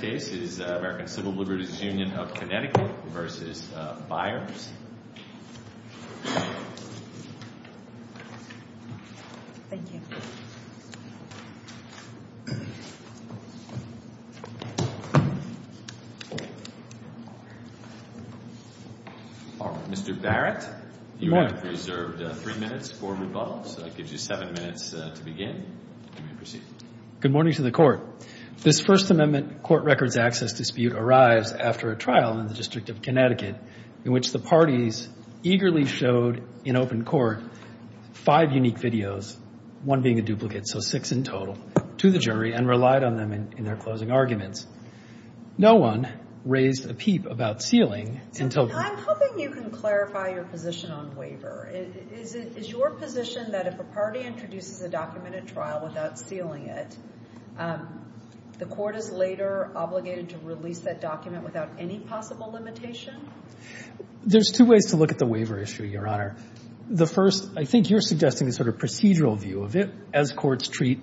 The next case is American Civil Liberties Union of Connecticut v. Byars. Mr. Barrett, you have reserved three minutes for rebuttal, so that gives you seven minutes to begin. Good morning to the Court. This First Amendment court records access dispute arrives after a trial in the District of Connecticut in which the parties eagerly showed in open court five unique videos, one being a duplicate, so six in total, to the jury and relied on them in their closing arguments. No one raised a peep about sealing until... I'm hoping you can clarify your position on waiver. Is your position that if a party introduces a document at trial without sealing it, the court is later obligated to release that document without any possible limitation? There's two ways to look at the waiver issue, Your Honor. The first, I think you're suggesting a sort of procedural view of it as courts treat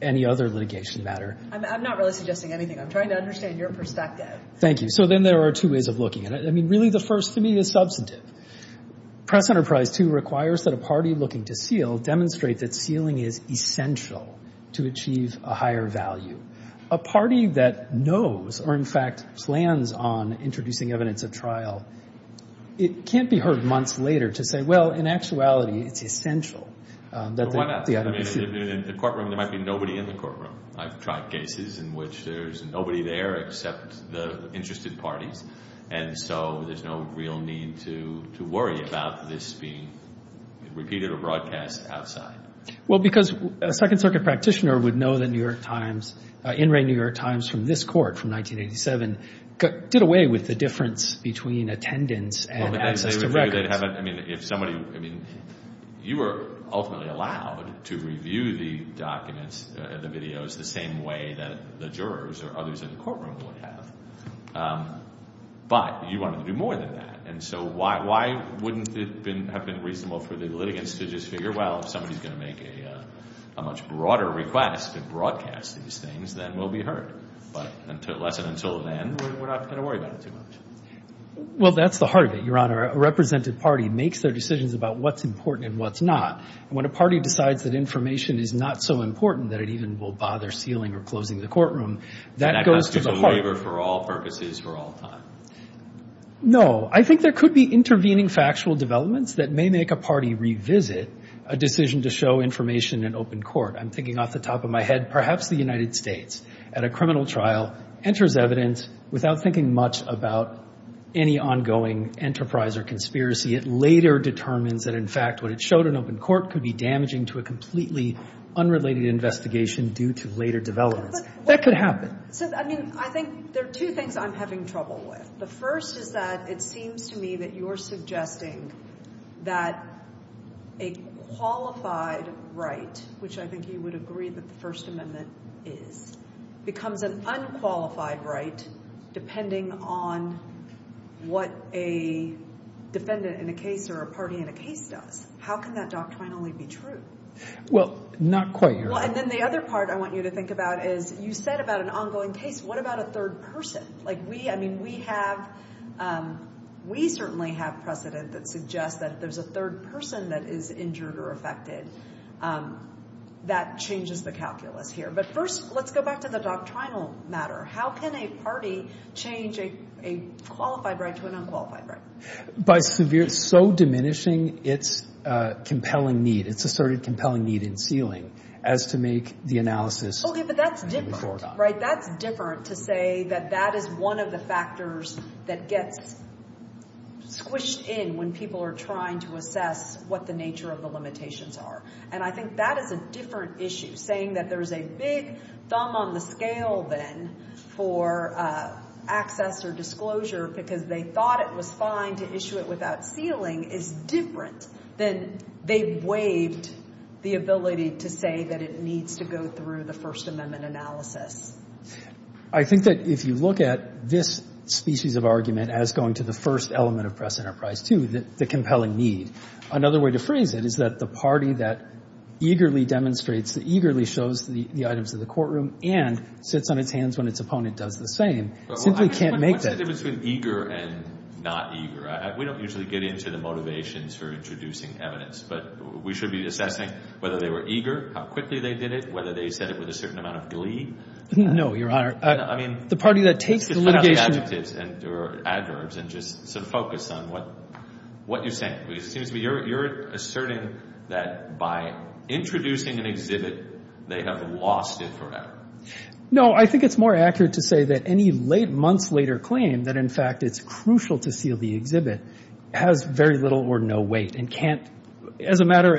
any other litigation matter. I'm not really suggesting anything. I'm trying to understand your perspective. Thank you. So then there are two ways of looking at it. I mean, really, the first to me is substantive. Press Enterprise 2 requires that a party looking to seal demonstrate that sealing is essential to achieve a higher value. A party that knows or, in fact, plans on introducing evidence at trial, it can't be heard months later to say, well, in actuality, it's essential that the... In the courtroom, there might be nobody in the courtroom. I've tried cases in which there's nobody there except the interested parties. And so there's no real need to worry about this being repeated or broadcast outside. Well, because a Second Circuit practitioner would know that New York Times, in re New York Times, from this court from 1987, did away with the difference between attendance and access to records. You were ultimately allowed to review the documents, the videos, the same way that the jurors or others in the courtroom would have. But you wanted to do more than that. And so why wouldn't it have been reasonable for the litigants to just figure, well, if somebody's going to make a much broader request to broadcast these things, then we'll be heard. But unless and until then, we're not going to worry about it too much. Well, that's the heart of it, Your Honor. A represented party makes their decisions about what's important and what's not. And when a party decides that information is not so important that it even will bother sealing or closing the courtroom, that goes to the heart... That has to be a waiver for all purposes, for all time. No. I think there could be intervening factual developments that may make a party revisit a decision to show information in open court. I'm thinking off the top of my head, perhaps the United States at a criminal trial enters evidence without thinking much about any ongoing enterprise or conspiracy. It later determines that, in fact, what it showed in open court could be damaging to a completely unrelated investigation due to later developments. That could happen. So, I mean, I think there are two things I'm having trouble with. The first is that it seems to me that you're suggesting that a qualified right, which I think you would agree that the First Amendment is, becomes an unqualified right depending on what a defendant in a case or a party in a case does. How can that doctrinally be true? Well, not quite, Your Honor. Well, and then the other part I want you to think about is you said about an ongoing case, what about a third person? Like, we, I mean, we have, we certainly have precedent that suggests that if there's a third person that is injured or affected, that changes the calculus here. But first, let's go back to the doctrinal matter. How can a party change a qualified right to an unqualified right? By severe, so diminishing its compelling need, its asserted compelling need in sealing as to make the analysis a new paradigm. Okay, but that's different, right? That's different to say that that is one of the factors that gets squished in when people are trying to assess what the nature of the limitations are. And I think that is a different issue, saying that there's a big thumb on the scale then for access or disclosure because they thought it was fine to issue it without sealing is different than they waived the ability to say that it needs to go through the First Amendment analysis. I think that if you look at this species of argument as going to the first element of press enterprise, too, the compelling need, another way to phrase it is that the party that eagerly demonstrates, that eagerly shows the items in the courtroom and sits on its hands when its opponent does the same simply can't make that. What's the difference between eager and not eager? We don't usually get into the motivations for introducing evidence, but we should be assessing whether they were eager, how quickly they did it, whether they said it with a certain amount of glee. No, Your Honor. I mean. Let's just cut out the adjectives or adverbs and just sort of focus on what you're saying. It seems to me you're asserting that by introducing an exhibit, they have lost it forever. No, I think it's more accurate to say that any months later claim that in fact it's crucial to seal the exhibit has very little or no weight and can't, as a matter,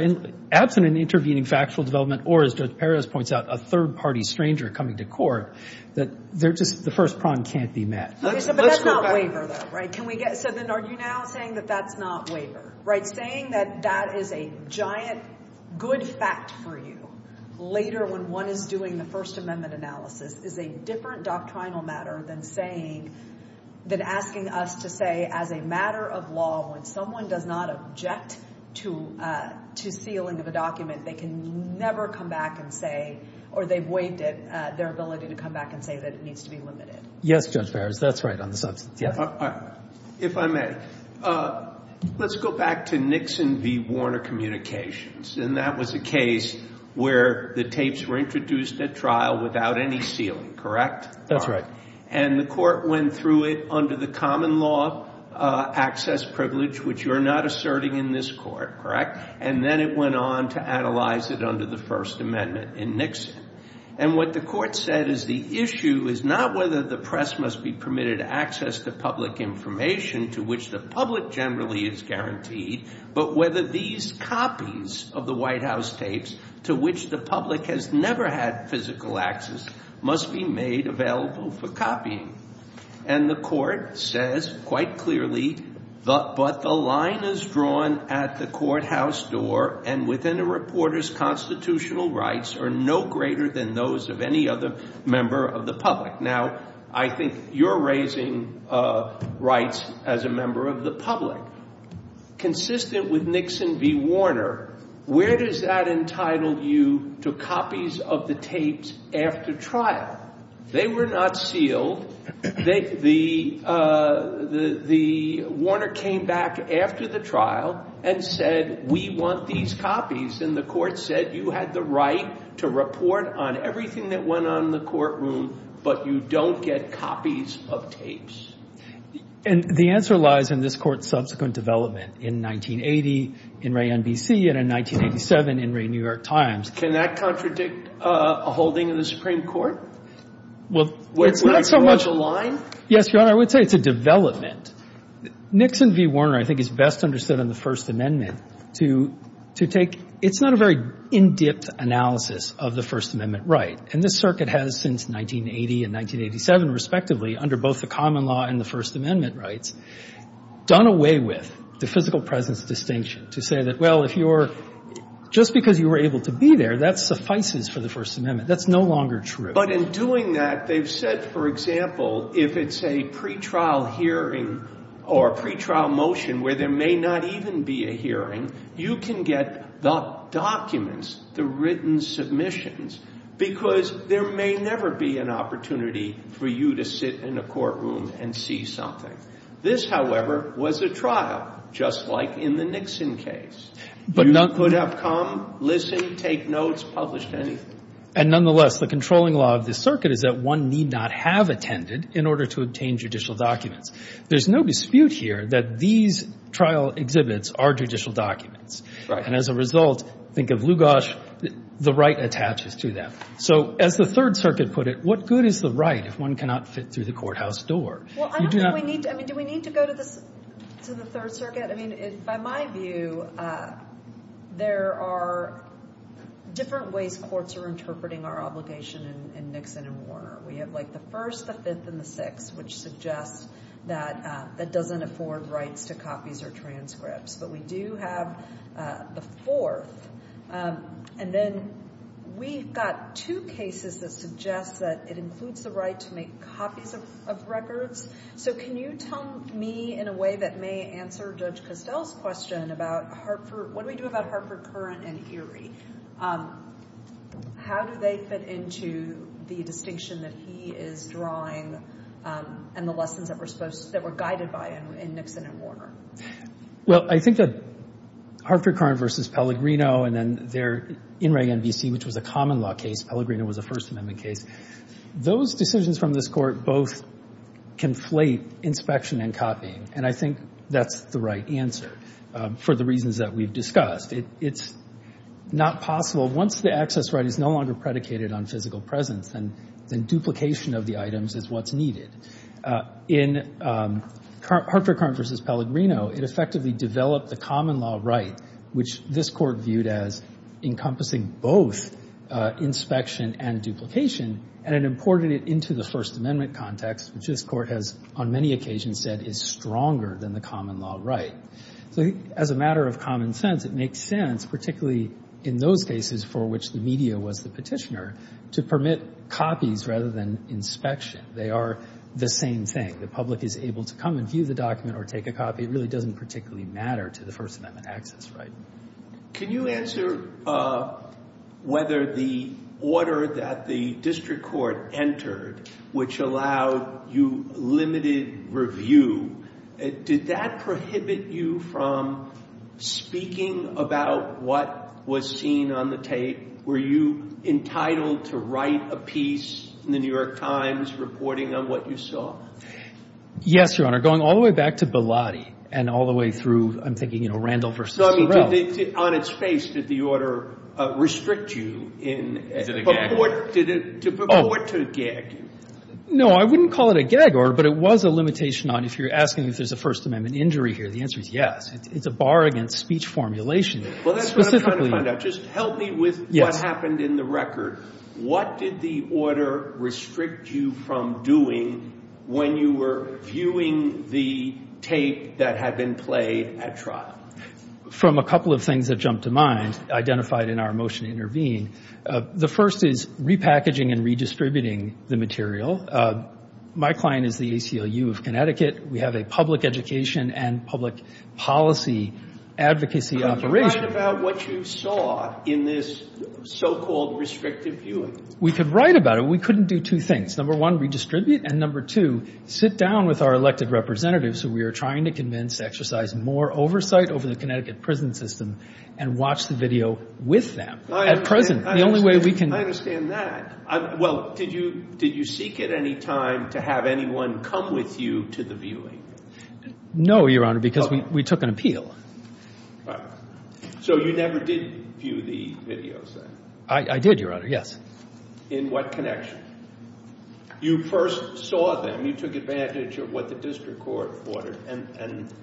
absent an intervening factual development or, as Judge Perez points out, a third party stranger coming to court, that they're just, the first prong can't be met. But that's not waiver though, right? Can we get, so then are you now saying that that's not waiver, right? By saying that that is a giant good fact for you later when one is doing the First Amendment analysis is a different doctrinal matter than saying, than asking us to say, as a matter of law, when someone does not object to sealing of a document, they can never come back and say, or they've waived it, their ability to come back and say that it needs to be limited. Yes, Judge Perez, that's right on the substance. If I may, let's go back to Nixon v. Warner Communications. And that was a case where the tapes were introduced at trial without any sealing, correct? That's right. And the court went through it under the common law access privilege, which you're not asserting in this court, correct? And then it went on to analyze it under the First Amendment in Nixon. And what the court said is the issue is not whether the press must be permitted access to public information to which the public generally is guaranteed, but whether these copies of the White House tapes to which the public has never had physical access must be made available for copying. And the court says quite clearly, but the line is drawn at the courthouse door and within a reporter's constitutional rights are no greater than those of any other member of the public. Now, I think you're raising rights as a member of the public. Consistent with Nixon v. Warner, where does that entitle you to copies of the tapes after trial? They were not sealed. The Warner came back after the trial and said, we want these copies. And the court said you had the right to report on everything that went on in the courtroom, but you don't get copies of tapes. And the answer lies in this court's subsequent development in 1980 in Ray NBC and in 1987 in Ray New York Times. Can that contradict a holding in the Supreme Court? Well, it's not so much a line. Yes, Your Honor, I would say it's a development. Nixon v. Warner, I think, is best understood in the First Amendment to take — it's not a very in-depth analysis of the First Amendment right. And this circuit has since 1980 and 1987, respectively, under both the common law and the First Amendment rights, done away with the physical presence distinction to say that, well, if you're — just because you were able to be there, that suffices for the First Amendment. That's no longer true. But in doing that, they've said, for example, if it's a pretrial hearing or a pretrial motion where there may not even be a hearing, you can get the documents, the written submissions, because there may never be an opportunity for you to sit in a courtroom and see something. This, however, was a trial, just like in the Nixon case. You could have come, listened, take notes, published anything. And nonetheless, the controlling law of this circuit is that one need not have attended in order to obtain judicial documents. There's no dispute here that these trial exhibits are judicial documents. And as a result, think of Lugosch, the right attaches to them. So as the Third Circuit put it, what good is the right if one cannot fit through the courthouse door? Well, I don't think we need — I mean, do we need to go to the Third Circuit? I mean, by my view, there are different ways courts are interpreting our obligation in Nixon and Warner. We have, like, the First, the Fifth, and the Sixth, which suggest that that doesn't afford rights to copies or transcripts. But we do have the Fourth. And then we've got two cases that suggest that it includes the right to make copies of records. So can you tell me in a way that may answer Judge Costell's question about Hartford — what do we do about Hartford, Curran, and Erie? How do they fit into the distinction that he is drawing and the lessons that were supposed — that were guided by in Nixon and Warner? Well, I think that Hartford, Curran v. Pellegrino, and then their INREG NVC, which was a common-law case, Pellegrino was a First Amendment case, those decisions from this Court both conflate inspection and copying. And I think that's the right answer for the reasons that we've discussed. It's not possible. Once the access right is no longer predicated on physical presence, then duplication of the items is what's needed. In Hartford, Curran v. Pellegrino, it effectively developed the common-law right, which this Court viewed as encompassing both inspection and duplication. And it imported it into the First Amendment context, which this Court has on many occasions said is stronger than the common-law right. So as a matter of common sense, it makes sense, particularly in those cases for which the media was the petitioner, to permit copies rather than inspection. They are the same thing. The public is able to come and view the document or take a copy. It really doesn't particularly matter to the First Amendment access right. Can you answer whether the order that the district court entered, which allowed you limited review, did that prohibit you from speaking about what was seen on the tape? Were you entitled to write a piece in the New York Times reporting on what you saw? Yes, Your Honor. Going all the way back to Bellotti and all the way through, I'm thinking, you know, Randall v. Sorrell. On its face, did the order restrict you in purport to gag you? No, I wouldn't call it a gag order, but it was a limitation on if you're asking if there's a First Amendment injury here. The answer is yes. It's a bar against speech formulation. Well, that's what I'm trying to find out. Just help me with what happened in the record. What did the order restrict you from doing when you were viewing the tape that had been played at trial? From a couple of things that jumped to mind identified in our motion to intervene. The first is repackaging and redistributing the material. My client is the ACLU of Connecticut. We have a public education and public policy advocacy operation. Could you write about what you saw in this so-called restrictive viewing? We could write about it. We couldn't do two things. Number one, redistribute, and number two, sit down with our elected representatives who we are trying to convince to exercise more oversight over the Connecticut prison system and watch the video with them at present. The only way we can – I understand that. Well, did you seek at any time to have anyone come with you to the viewing? No, Your Honor, because we took an appeal. All right. So you never did view the videos then? I did, Your Honor, yes. In what connection? You first saw them. You took advantage of what the district court ordered and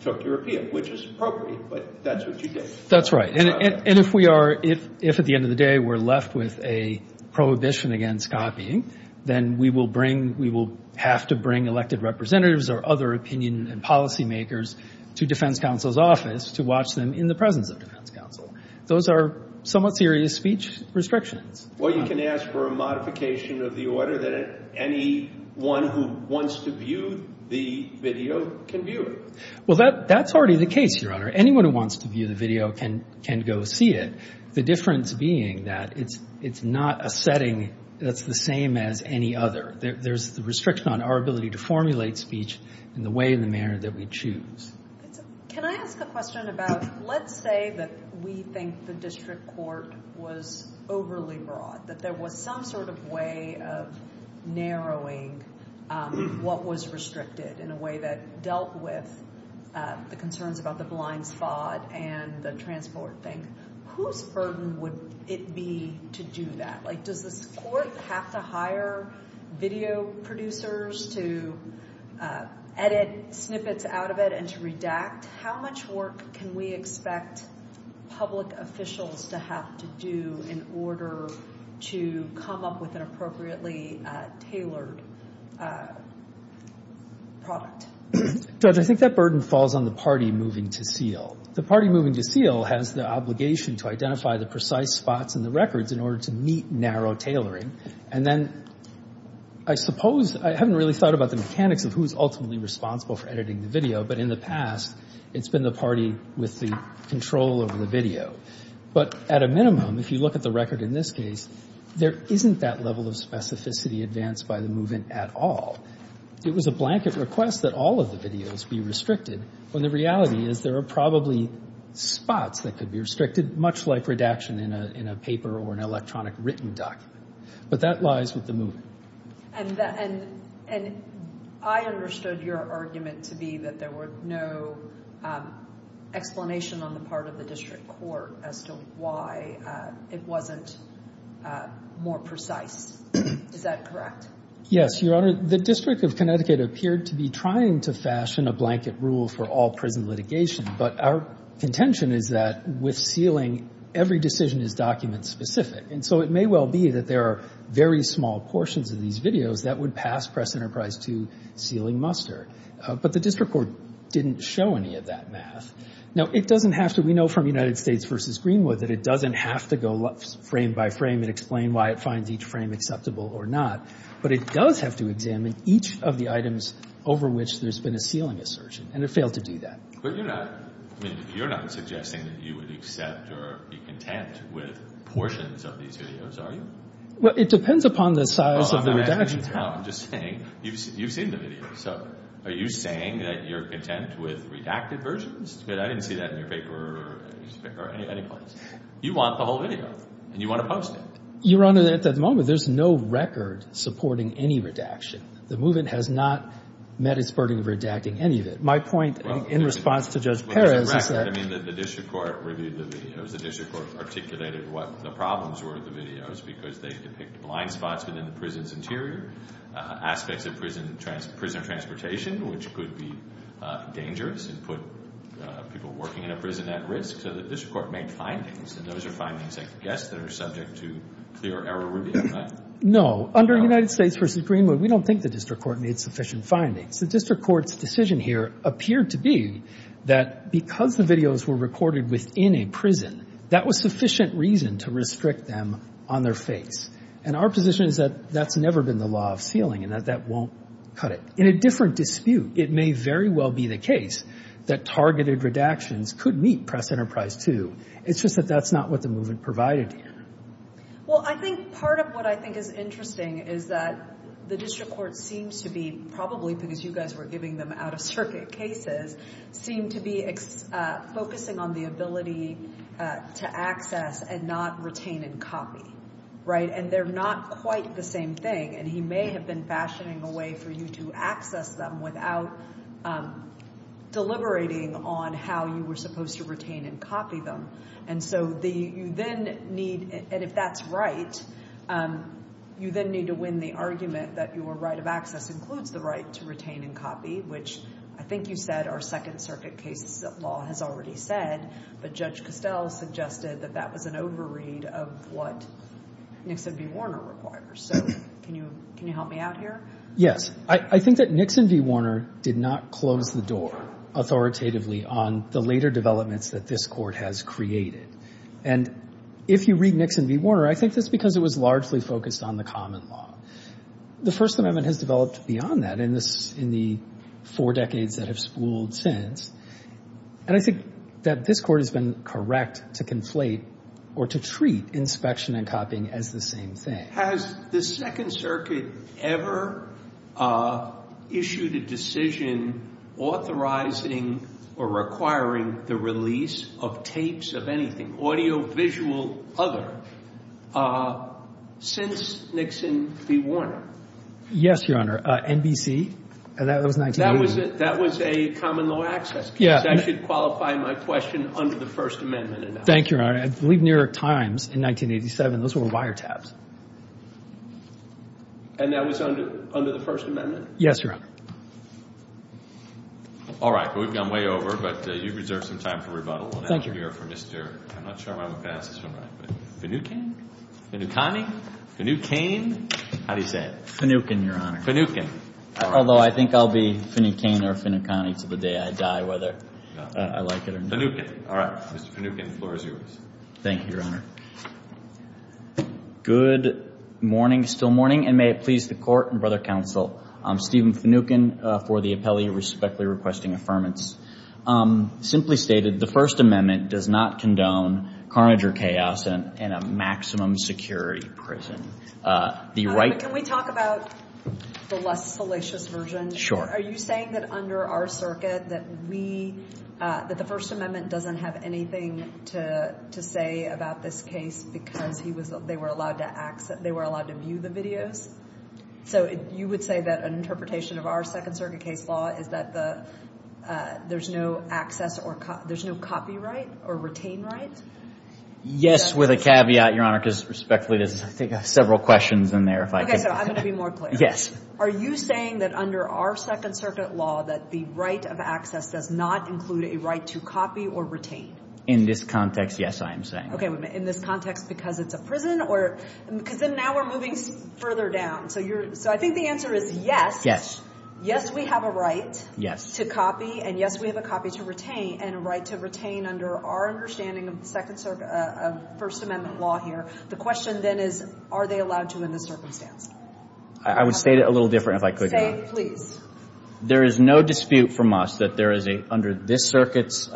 took your appeal, which is appropriate, but that's what you did. That's right. And if we are – if at the end of the day we're left with a prohibition against copying, then we will bring – we will have to bring elected representatives or other opinion and policymakers to defense counsel's office to watch them in the presence of defense counsel. Those are somewhat serious speech restrictions. Well, you can ask for a modification of the order that anyone who wants to view the video can view it. Well, that's already the case, Your Honor. Anyone who wants to view the video can go see it. The difference being that it's not a setting that's the same as any other. There's the restriction on our ability to formulate speech in the way and the manner that we choose. Can I ask a question about – let's say that we think the district court was overly broad, that there was some sort of way of narrowing what was restricted in a way that dealt with the concerns about the blind spot and the transport thing. Whose burden would it be to do that? Like does this court have to hire video producers to edit snippets out of it and to redact? How much work can we expect public officials to have to do in order to come up with an appropriately tailored product? Judge, I think that burden falls on the party moving to seal. The party moving to seal has the obligation to identify the precise spots in the records in order to meet narrow tailoring. And then I suppose – I haven't really thought about the mechanics of who is ultimately responsible for editing the video, but in the past it's been the party with the control over the video. But at a minimum, if you look at the record in this case, there isn't that level of specificity advanced by the movement at all. It was a blanket request that all of the videos be restricted, when the reality is there are probably spots that could be restricted, much like redaction in a paper or an electronic written document. But that lies with the movement. And I understood your argument to be that there was no explanation on the part of the district court as to why it wasn't more precise. Is that correct? Yes, Your Honor. The District of Connecticut appeared to be trying to fashion a blanket rule for all prison litigation. But our contention is that with sealing, every decision is document-specific. And so it may well be that there are very small portions of these videos that would pass press enterprise to sealing muster. But the district court didn't show any of that math. Now, it doesn't have to – we know from United States v. Greenwood that it doesn't have to go frame by frame and explain why it finds each frame acceptable or not. But it does have to examine each of the items over which there's been a sealing assertion. And it failed to do that. But you're not – I mean, you're not suggesting that you would accept or be content with portions of these videos, are you? Well, it depends upon the size of the redaction. No, I'm just saying you've seen the video. So are you saying that you're content with redacted versions? I didn't see that in your paper or any place. You want the whole video, and you want to post it. Your Honor, at that moment, there's no record supporting any redaction. The movement has not met its burden of redacting any of it. My point in response to Judge Perez is that – I mean, the district court reviewed the videos. The district court articulated what the problems were with the videos because they depict blind spots within the prison's interior, aspects of prison transportation which could be dangerous and put people working in a prison at risk. So the district court made findings, and those are findings, I guess, that are subject to clear error review, right? No. Under United States v. Greenwood, we don't think the district court made sufficient findings. The district court's decision here appeared to be that because the videos were recorded within a prison, that was sufficient reason to restrict them on their face. And our position is that that's never been the law of sealing and that that won't cut it. In a different dispute, it may very well be the case that targeted redactions could meet Press Enterprise 2. It's just that that's not what the movement provided here. Well, I think part of what I think is interesting is that the district court seems to be probably, because you guys were giving them out-of-circuit cases, seem to be focusing on the ability to access and not retain and copy, right? And they're not quite the same thing, and he may have been fashioning a way for you to access them without deliberating on how you were supposed to retain and copy them. And so you then need, and if that's right, you then need to win the argument that your right of access includes the right to retain and copy, which I think you said our Second Circuit case law has already said, but Judge Costell suggested that that was an overread of what Nixon v. Warner requires. So can you help me out here? Yes. I think that Nixon v. Warner did not close the door authoritatively on the later developments that this court has created. And if you read Nixon v. Warner, I think that's because it was largely focused on the common law. The First Amendment has developed beyond that in the four decades that have spooled since, and I think that this court has been correct to conflate or to treat inspection and copying as the same thing. Has the Second Circuit ever issued a decision authorizing or requiring the release of tapes of anything, audio, visual, other, since Nixon v. Warner? Yes, Your Honor. NBC. That was 1980. That was a common law access case. That should qualify my question under the First Amendment. Thank you, Your Honor. I believe New York Times in 1987, those were wiretaps. And that was under the First Amendment? Yes, Your Honor. All right. We've gone way over, but you've reserved some time for rebuttal. Thank you. I'm not sure if I'm going to pass this one right. Finucane? Finucane? Finucane? How do you say it? Finucane, Your Honor. Finucane. Although I think I'll be Finucane or Finucane until the day I die, whether I like it or not. Finucane. All right. Mr. Finucane, the floor is yours. Thank you, Your Honor. Good morning, still morning, and may it please the Court and Brother Counsel, I'm Stephen Finucane for the appellee respectfully requesting affirmance. Simply stated, the First Amendment does not condone carnage or chaos in a maximum security prison. Can we talk about the less salacious version? Sure. Are you saying that under our circuit that we, that the First Amendment doesn't have anything to say about this case because they were allowed to view the videos? So you would say that an interpretation of our Second Circuit case law is that there's no access or there's no copyright or retain right? Yes, with a caveat, Your Honor, because respectfully there's I think several questions in there if I can. Okay, so I'm going to be more clear. Yes. Are you saying that under our Second Circuit law that the right of access does not include a right to copy or retain? In this context, yes, I am saying. Okay, in this context because it's a prison or because then now we're moving further down. So I think the answer is yes. Yes, we have a right. To copy and yes, we have a copy to retain and a right to retain under our understanding of First Amendment law here. The question then is are they allowed to in this circumstance? I would state it a little different if I could. Say it, please. There is no dispute from us that there is a, under this circuit's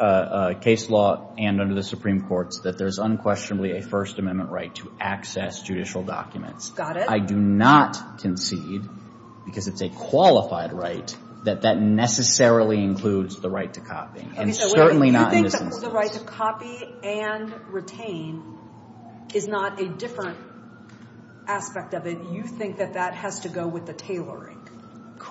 case law and under the Supreme Court's, that there's unquestionably a First Amendment right to access judicial documents. Got it. I do not concede because it's a qualified right that that necessarily includes the right to copy and certainly not in this instance. Okay, so you think that the right to copy and retain is not a different aspect of it. You think that that has to go with the tailoring.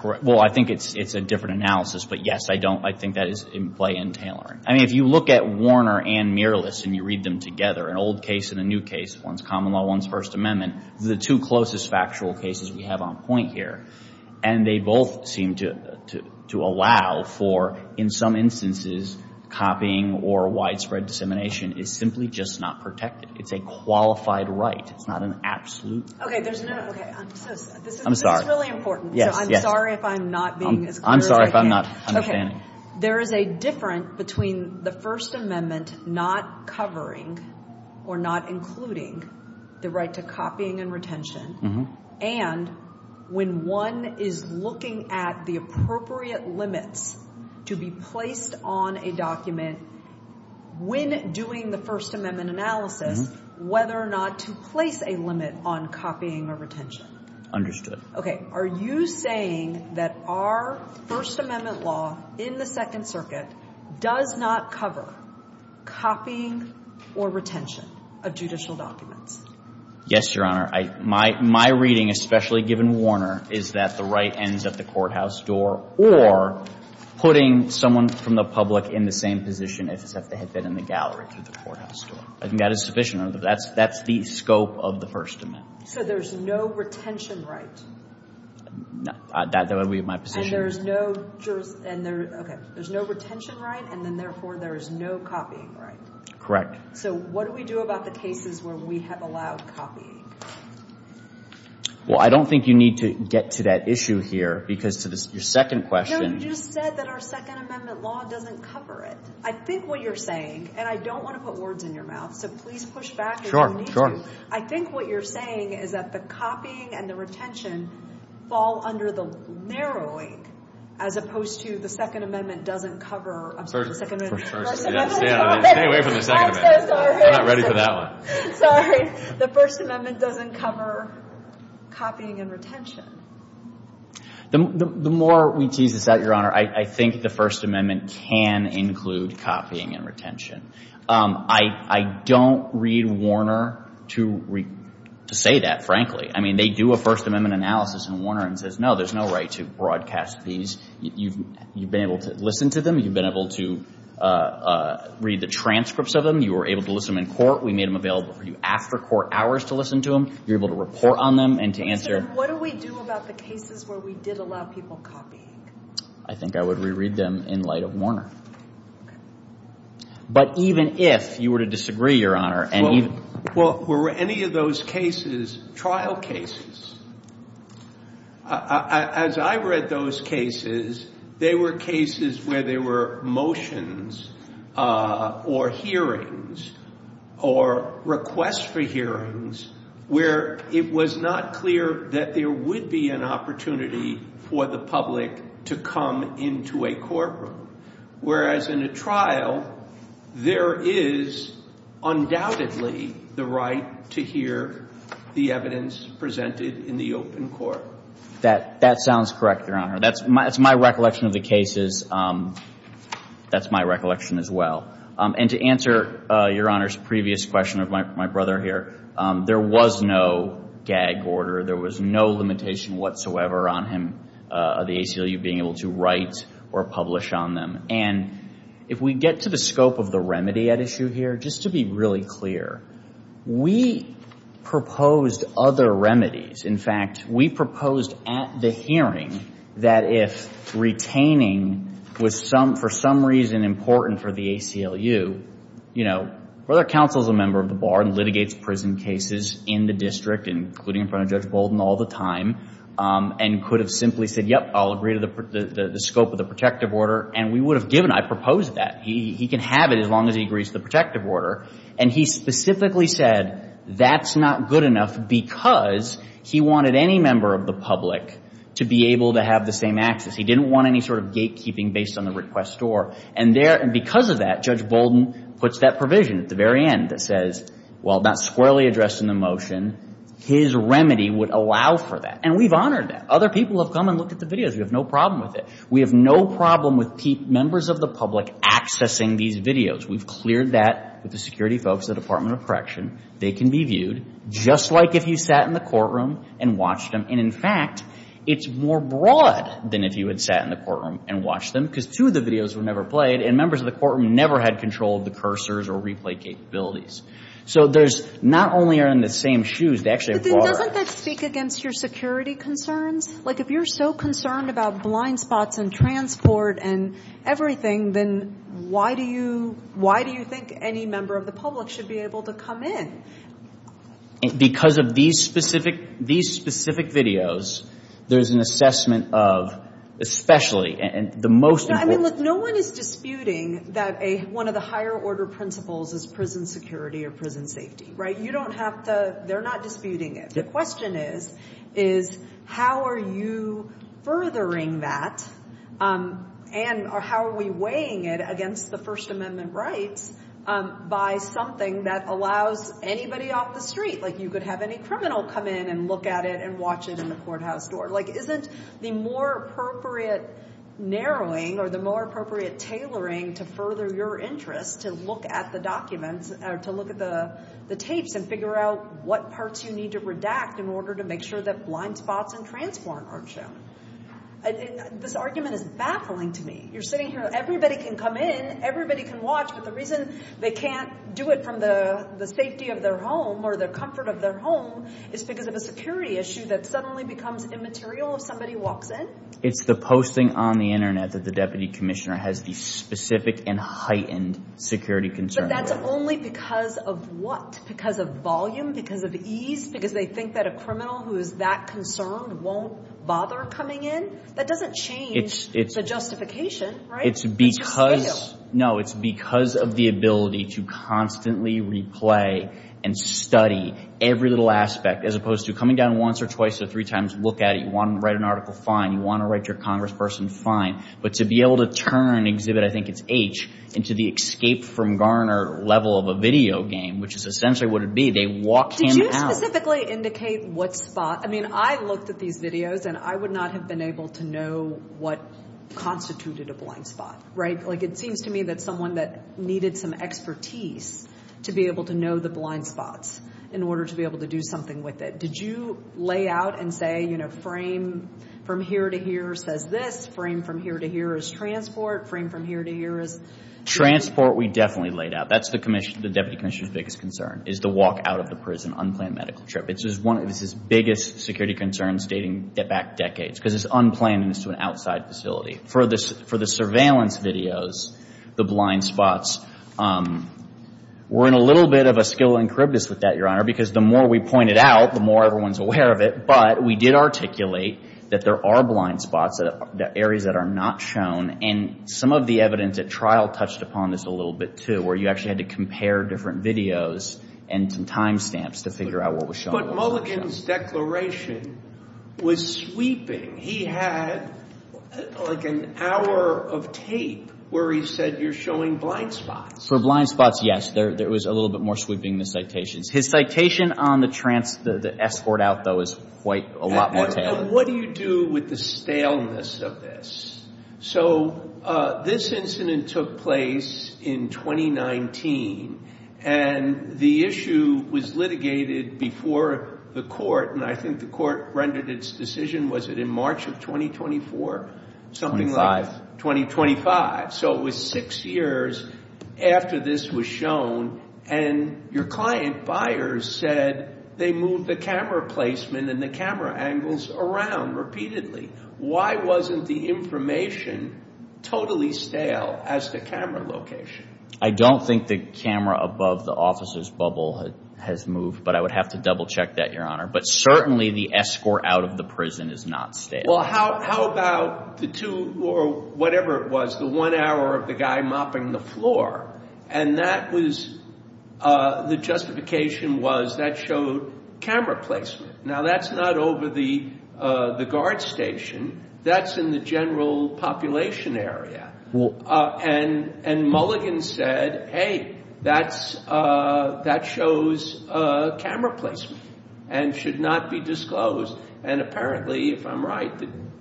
Well, I think it's a different analysis. But yes, I don't. I think that is in play in tailoring. I mean, if you look at Warner and Miralist and you read them together, an old case and a new case, one's common law, one's First Amendment, the two closest factual cases we have on point here. And they both seem to allow for in some instances copying or widespread dissemination is simply just not protected. It's a qualified right. It's not an absolute. Okay, there's another. I'm sorry. This is really important. So I'm sorry if I'm not being as clear as I can. I'm sorry if I'm not understanding. Okay. There is a difference between the First Amendment not covering or not including the right to copying and retention and when one is looking at the appropriate limits to be placed on a document when doing the First Amendment analysis, whether or not to place a limit on copying or retention. Understood. Are you saying that our First Amendment law in the Second Circuit does not cover copying or retention of judicial documents? Yes, Your Honor. My reading, especially given Warner, is that the right ends at the courthouse door or putting someone from the public in the same position as if they had been in the gallery through the courthouse door. I think that is sufficient. That's the scope of the First Amendment. So there's no retention right? That would be my position. And there's no, okay, there's no retention right and then therefore there is no copying right? Correct. So what do we do about the cases where we have allowed copying? Well, I don't think you need to get to that issue here because to your second question. No, you just said that our Second Amendment law doesn't cover it. I think what you're saying, and I don't want to put words in your mouth, so please push back if you need to. Sure, sure. So I think what you're saying is that the copying and the retention fall under the narrowing as opposed to the Second Amendment doesn't cover, I'm sorry, the Second Amendment. First Amendment. Stay away from the Second Amendment. I'm so sorry. We're not ready for that one. Sorry. The First Amendment doesn't cover copying and retention. The more we tease this out, Your Honor, I think the First Amendment can include copying and retention. I don't read Warner to say that, frankly. I mean, they do a First Amendment analysis in Warner and says, no, there's no right to broadcast these. You've been able to listen to them. You've been able to read the transcripts of them. You were able to listen to them in court. We made them available for you after court hours to listen to them. You're able to report on them and to answer. What do we do about the cases where we did allow people copying? I think I would reread them in light of Warner. But even if you were to disagree, Your Honor. Well, were any of those cases trial cases? As I read those cases, they were cases where there were motions or hearings or requests for hearings where it was not clear that there would be an opportunity for the public to come into a courtroom. Whereas in a trial, there is undoubtedly the right to hear the evidence presented in the open court. That sounds correct, Your Honor. That's my recollection of the cases. That's my recollection as well. And to answer Your Honor's previous question of my brother here, there was no gag order. There was no limitation whatsoever on him, the ACLU, being able to write or publish on them. And if we get to the scope of the remedy at issue here, just to be really clear, we proposed other remedies. In fact, we proposed at the hearing that if retaining was for some reason important for the ACLU, you know, Brother Counsel is a member of the bar and litigates prison cases in the district, including in front of Judge Bolden all the time, and could have simply said, yep, I'll agree to the scope of the protective order. And we would have given. I proposed that. He can have it as long as he agrees to the protective order. And he specifically said that's not good enough because he wanted any member of the public to be able to have the same access. He didn't want any sort of gatekeeping based on the request or. And because of that, Judge Bolden puts that provision at the very end that says, well, that's squarely addressed in the motion. His remedy would allow for that. And we've honored that. Other people have come and looked at the videos. We have no problem with it. We have no problem with members of the public accessing these videos. We've cleared that with the security folks at the Department of Correction. They can be viewed just like if you sat in the courtroom and watched them. And, in fact, it's more broad than if you had sat in the courtroom and watched them because two of the videos were never played and members of the courtroom never had control of the cursors or replay capabilities. So there's not only are they in the same shoes. They actually have broader. But then doesn't that speak against your security concerns? Like, if you're so concerned about blind spots and transport and everything, then why do you think any member of the public should be able to come in? Because of these specific videos, there's an assessment of especially and the most important. I mean, look, no one is disputing that one of the higher order principles is prison security or prison safety, right? You don't have to. They're not disputing it. The question is, is how are you furthering that and how are we weighing it against the First Amendment rights by something that allows anybody off the street? Like, you could have any criminal come in and look at it and watch it in the courthouse door. Like, isn't the more appropriate narrowing or the more appropriate tailoring to further your interest to look at the documents or to look at the tapes and figure out what parts you need to redact in order to make sure that blind spots and transport aren't shown? This argument is baffling to me. You're sitting here. Everybody can come in. Everybody can watch. But the reason they can't do it from the safety of their home or the comfort of their home is because of a security issue that suddenly becomes immaterial if somebody walks in. It's the posting on the internet that the deputy commissioner has these specific and heightened security concerns. But that's only because of what? Because of volume? Because of ease? Because they think that a criminal who is that concerned won't bother coming in? That doesn't change the justification, right? It's because of the ability to constantly replay and study every little aspect as opposed to coming down once or twice or three times to look at it. You want to write an article? Fine. You want to write your congressperson? Fine. But to be able to turn and exhibit, I think it's H, into the escape from Garner level of a video game, which is essentially what it would be, they walk him out. Did you specifically indicate what spot? I mean, I looked at these videos, and I would not have been able to know what constituted a blind spot, right? Like, it seems to me that someone that needed some expertise to be able to know the blind spots in order to be able to do something with it. Did you lay out and say, you know, frame from here to here says this, frame from here to here is transport, frame from here to here is? Transport we definitely laid out. That's the deputy commissioner's biggest concern is the walk out of the prison unplanned medical trip. It's one of his biggest security concerns dating back decades, because it's unplanned and it's to an outside facility. For the surveillance videos, the blind spots, we're in a little bit of a scala encryptus with that, Your Honor, because the more we point it out, the more everyone's aware of it. But we did articulate that there are blind spots, areas that are not shown. And some of the evidence at trial touched upon this a little bit, too, where you actually had to compare different videos and timestamps to figure out what was shown. But Mulligan's declaration was sweeping. He had like an hour of tape where he said you're showing blind spots. For blind spots, yes. There was a little bit more sweeping in the citations. His citation on the escort out, though, is quite a lot more tailored. And what do you do with the staleness of this? So this incident took place in 2019. And the issue was litigated before the court. And I think the court rendered its decision, was it in March of 2024? Twenty-five. Something like 2025. So it was six years after this was shown. And your client, Byers, said they moved the camera placement and the camera angles around repeatedly. Why wasn't the information totally stale as the camera location? I don't think the camera above the officer's bubble has moved. But I would have to double-check that, Your Honor. But certainly the escort out of the prison is not stale. Well, how about the two or whatever it was, the one hour of the guy mopping the floor. And that was the justification was that showed camera placement. Now, that's not over the guard station. That's in the general population area. And Mulligan said, hey, that shows camera placement and should not be disclosed. And apparently, if I'm right,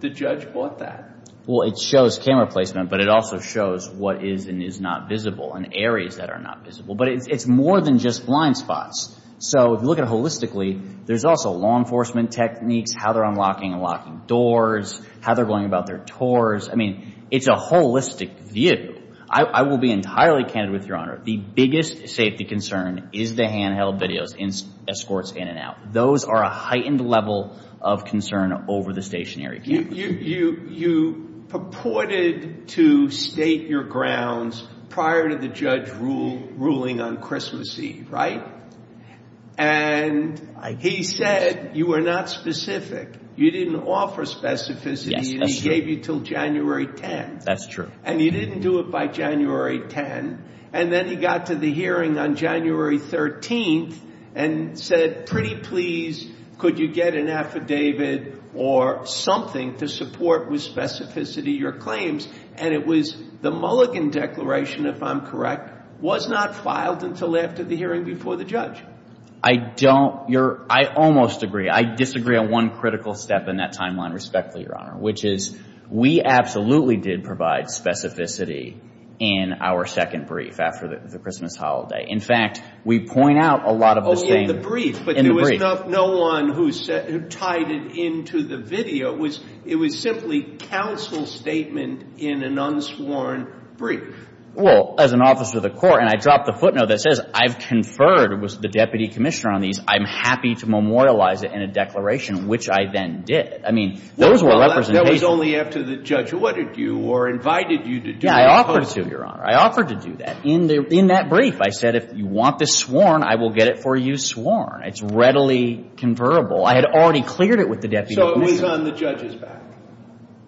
the judge bought that. Well, it shows camera placement, but it also shows what is and is not visible and areas that are not visible. But it's more than just blind spots. So if you look at it holistically, there's also law enforcement techniques, how they're unlocking and locking doors, how they're going about their tours. I mean, it's a holistic view. I will be entirely candid with you, Your Honor. The biggest safety concern is the handheld videos, escorts in and out. Those are a heightened level of concern over the stationary cameras. You purported to state your grounds prior to the judge ruling on Christmas Eve, right? And he said you were not specific. You didn't offer specificity and he gave you until January 10th. That's true. And you didn't do it by January 10th. And then he got to the hearing on January 13th and said, pretty please, could you get an affidavit or something to support with specificity your claims? And it was the Mulligan Declaration, if I'm correct, was not filed until after the hearing before the judge. I don't. I almost agree. I disagree on one critical step in that timeline respectfully, Your Honor, which is we absolutely did provide specificity in our second brief after the Christmas holiday. In fact, we point out a lot of the same. Oh, in the brief. In the brief. But there was no one who tied it into the video. It was simply counsel's statement in an unsworn brief. Well, as an officer of the court, and I dropped the footnote that says I've conferred with the deputy commissioner on these, I'm happy to memorialize it in a declaration, which I then did. I mean, those were representations. Well, that was only after the judge wanted you or invited you to do it. Yeah, I offered to, Your Honor. I offered to do that. In that brief, I said if you want this sworn, I will get it for you sworn. It's readily conferrable. I had already cleared it with the deputy commissioner. So it was on the judge's back.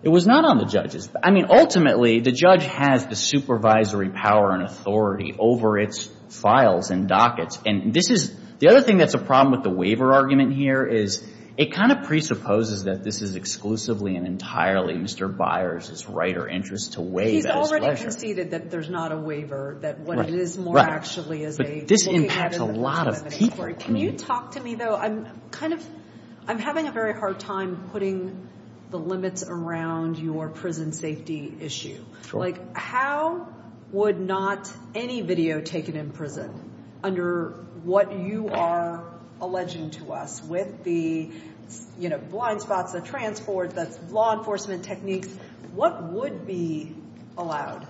It was not on the judge's back. I mean, ultimately, the judge has the supervisory power and authority over its files and dockets. And this is the other thing that's a problem with the waiver argument here is it kind of presupposes that this is exclusively and entirely Mr. Byers' right or interest to waive at his pleasure. He's already conceded that there's not a waiver, that what it is more actually is a looking at it as a presumed inventory. But this impacts a lot of people. Can you talk to me, though? I'm having a very hard time putting the limits around your prison safety issue. Like, how would not any video taken in prison under what you are alleging to us with the blind spots, the transport, the law enforcement techniques, what would be allowed?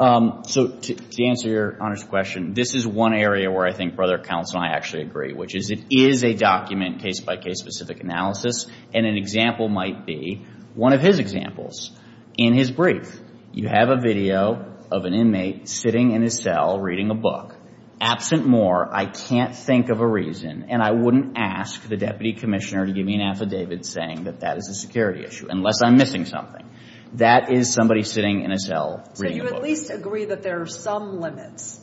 So to answer your honest question, this is one area where I think Brother Counsel and I actually agree, which is it is a document, case-by-case specific analysis, and an example might be one of his examples. In his brief, you have a video of an inmate sitting in his cell reading a book. Absent more, I can't think of a reason, and I wouldn't ask the deputy commissioner to give me an affidavit saying that that is a security issue unless I'm missing something. That is somebody sitting in a cell reading a book. So you at least agree that there are some limits.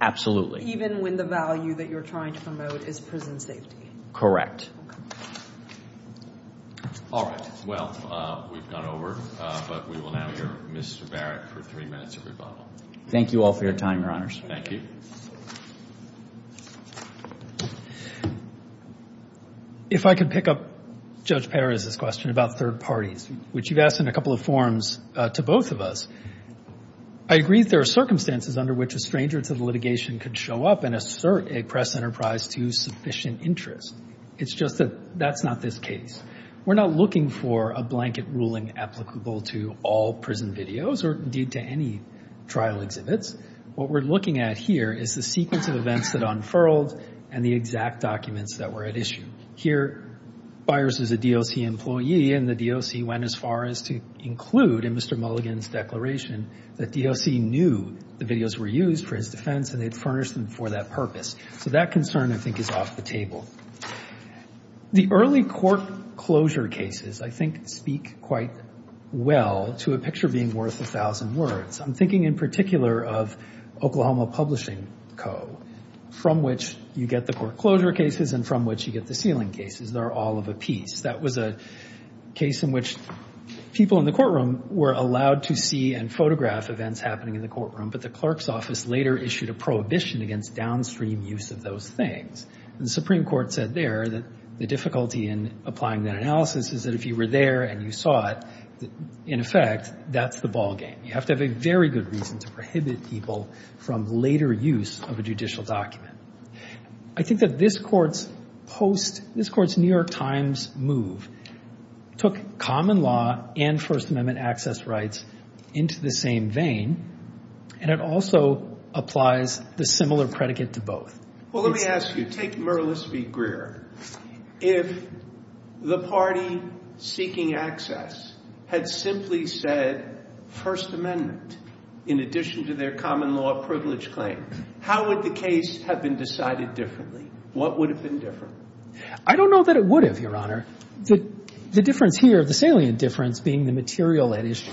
Absolutely. Even when the value that you're trying to promote is prison safety. Correct. All right. Well, we've gone over, but we will now hear Mr. Barrett for three minutes of rebuttal. Thank you all for your time, Your Honors. Thank you. If I could pick up Judge Perez's question about third parties, which you've asked in a couple of forms to both of us. I agree that there are circumstances under which a stranger to the litigation could show up and assert a press enterprise to sufficient interest. It's just that that's not this case. We're not looking for a blanket ruling applicable to all prison videos or, indeed, to any trial exhibits. What we're looking at here is the sequence of events that unfurled and the exact documents that were at issue. Here, Byers is a DOC employee, and the DOC went as far as to include in Mr. Mulligan's declaration that DOC knew the videos were used for his defense, and they furnished them for that purpose. So that concern, I think, is off the table. The early court closure cases, I think, speak quite well to a picture being worth a thousand words. I'm thinking in particular of Oklahoma Publishing Co., from which you get the court closure cases and from which you get the sealing cases. They're all of a piece. That was a case in which people in the courtroom were allowed to see and photograph events happening in the courtroom, but the clerk's office later issued a prohibition against downstream use of those things. The Supreme Court said there that the difficulty in applying that analysis is that if you were there and you saw it, in effect, that's the ballgame. You have to have a very good reason to prohibit people from later use of a judicial document. I think that this court's post – this court's New York Times move took common law and First Amendment access rights into the same vein, and it also applies the similar predicate to both. Well, let me ask you. Take Mirlis v. Greer. If the party seeking access had simply said First Amendment in addition to their common law privilege claim, how would the case have been decided differently? What would have been different? I don't know that it would have, Your Honor. The difference here, the salient difference, being the material at issue.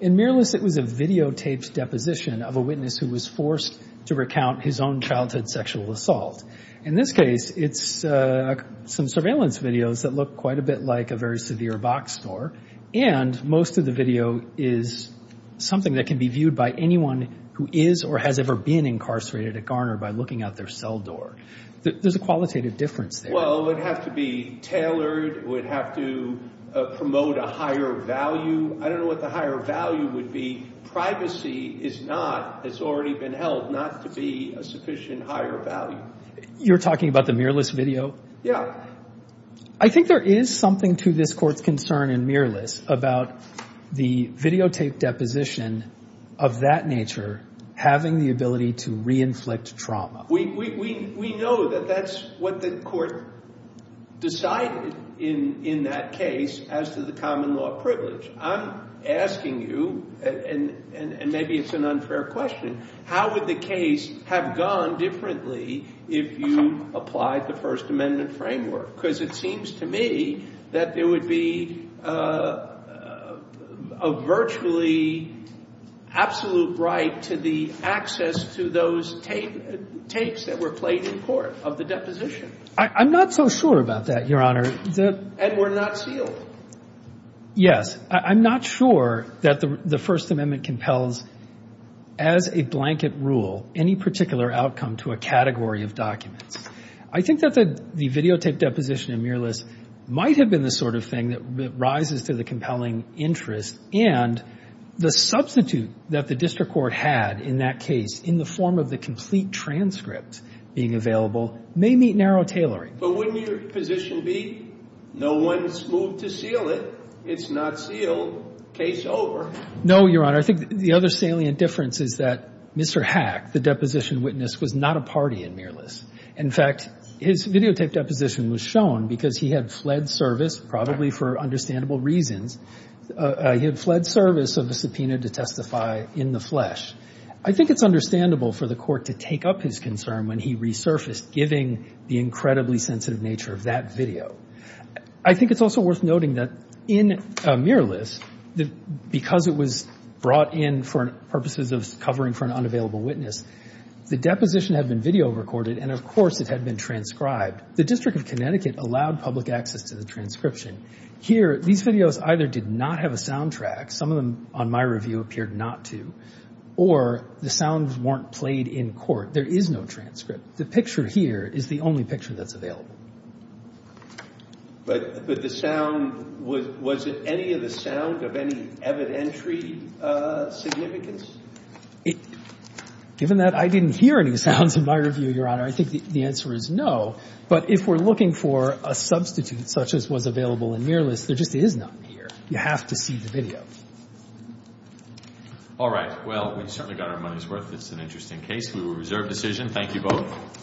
In Mirlis, it was a videotaped deposition of a witness who was forced to recount his own childhood sexual assault. In this case, it's some surveillance videos that look quite a bit like a very severe boxed door, and most of the video is something that can be viewed by anyone who is or has ever been incarcerated at Garner by looking out their cell door. There's a qualitative difference there. Well, it would have to be tailored. It would have to promote a higher value. I don't know what the higher value would be. Privacy is not, has already been held not to be a sufficient higher value. You're talking about the Mirlis video? Yeah. I think there is something to this court's concern in Mirlis about the videotaped deposition of that nature having the ability to re-inflict trauma. We know that that's what the court decided in that case as to the common law privilege. I'm asking you, and maybe it's an unfair question, how would the case have gone differently if you applied the First Amendment framework? Because it seems to me that there would be a virtually absolute right to the access to those tapes that were played in court of the deposition. I'm not so sure about that, Your Honor. And were not sealed. Yes. I'm not sure that the First Amendment compels as a blanket rule any particular outcome to a category of documents. I think that the videotaped deposition in Mirlis might have been the sort of thing that rises to the compelling interest, and the substitute that the district court had in that case in the form of the complete transcript being available may meet narrow tailoring. But wouldn't your position be no one's moved to seal it? It's not sealed. Case over. No, Your Honor. I think the other salient difference is that Mr. Hack, the deposition witness, was not a party in Mirlis. In fact, his videotaped deposition was shown because he had fled service, probably for understandable reasons. He had fled service of a subpoena to testify in the flesh. I think it's understandable for the Court to take up his concern when he resurfaced, giving the incredibly sensitive nature of that video. I think it's also worth noting that in Mirlis, because it was brought in for purposes of covering for an unavailable witness, the deposition had been video recorded and, of course, it had been transcribed. The District of Connecticut allowed public access to the transcription. Here, these videos either did not have a soundtrack, some of them on my review appeared not to, or the sounds weren't played in court. There is no transcript. The picture here is the only picture that's available. But the sound, was any of the sound of any evidentiary significance? Given that I didn't hear any sounds in my review, Your Honor, I think the answer is no. But if we're looking for a substitute such as was available in Mirlis, there just is none here. You have to see the video. All right. Well, we certainly got our money's worth. It's an interesting case. We will reserve decision. Thank you both.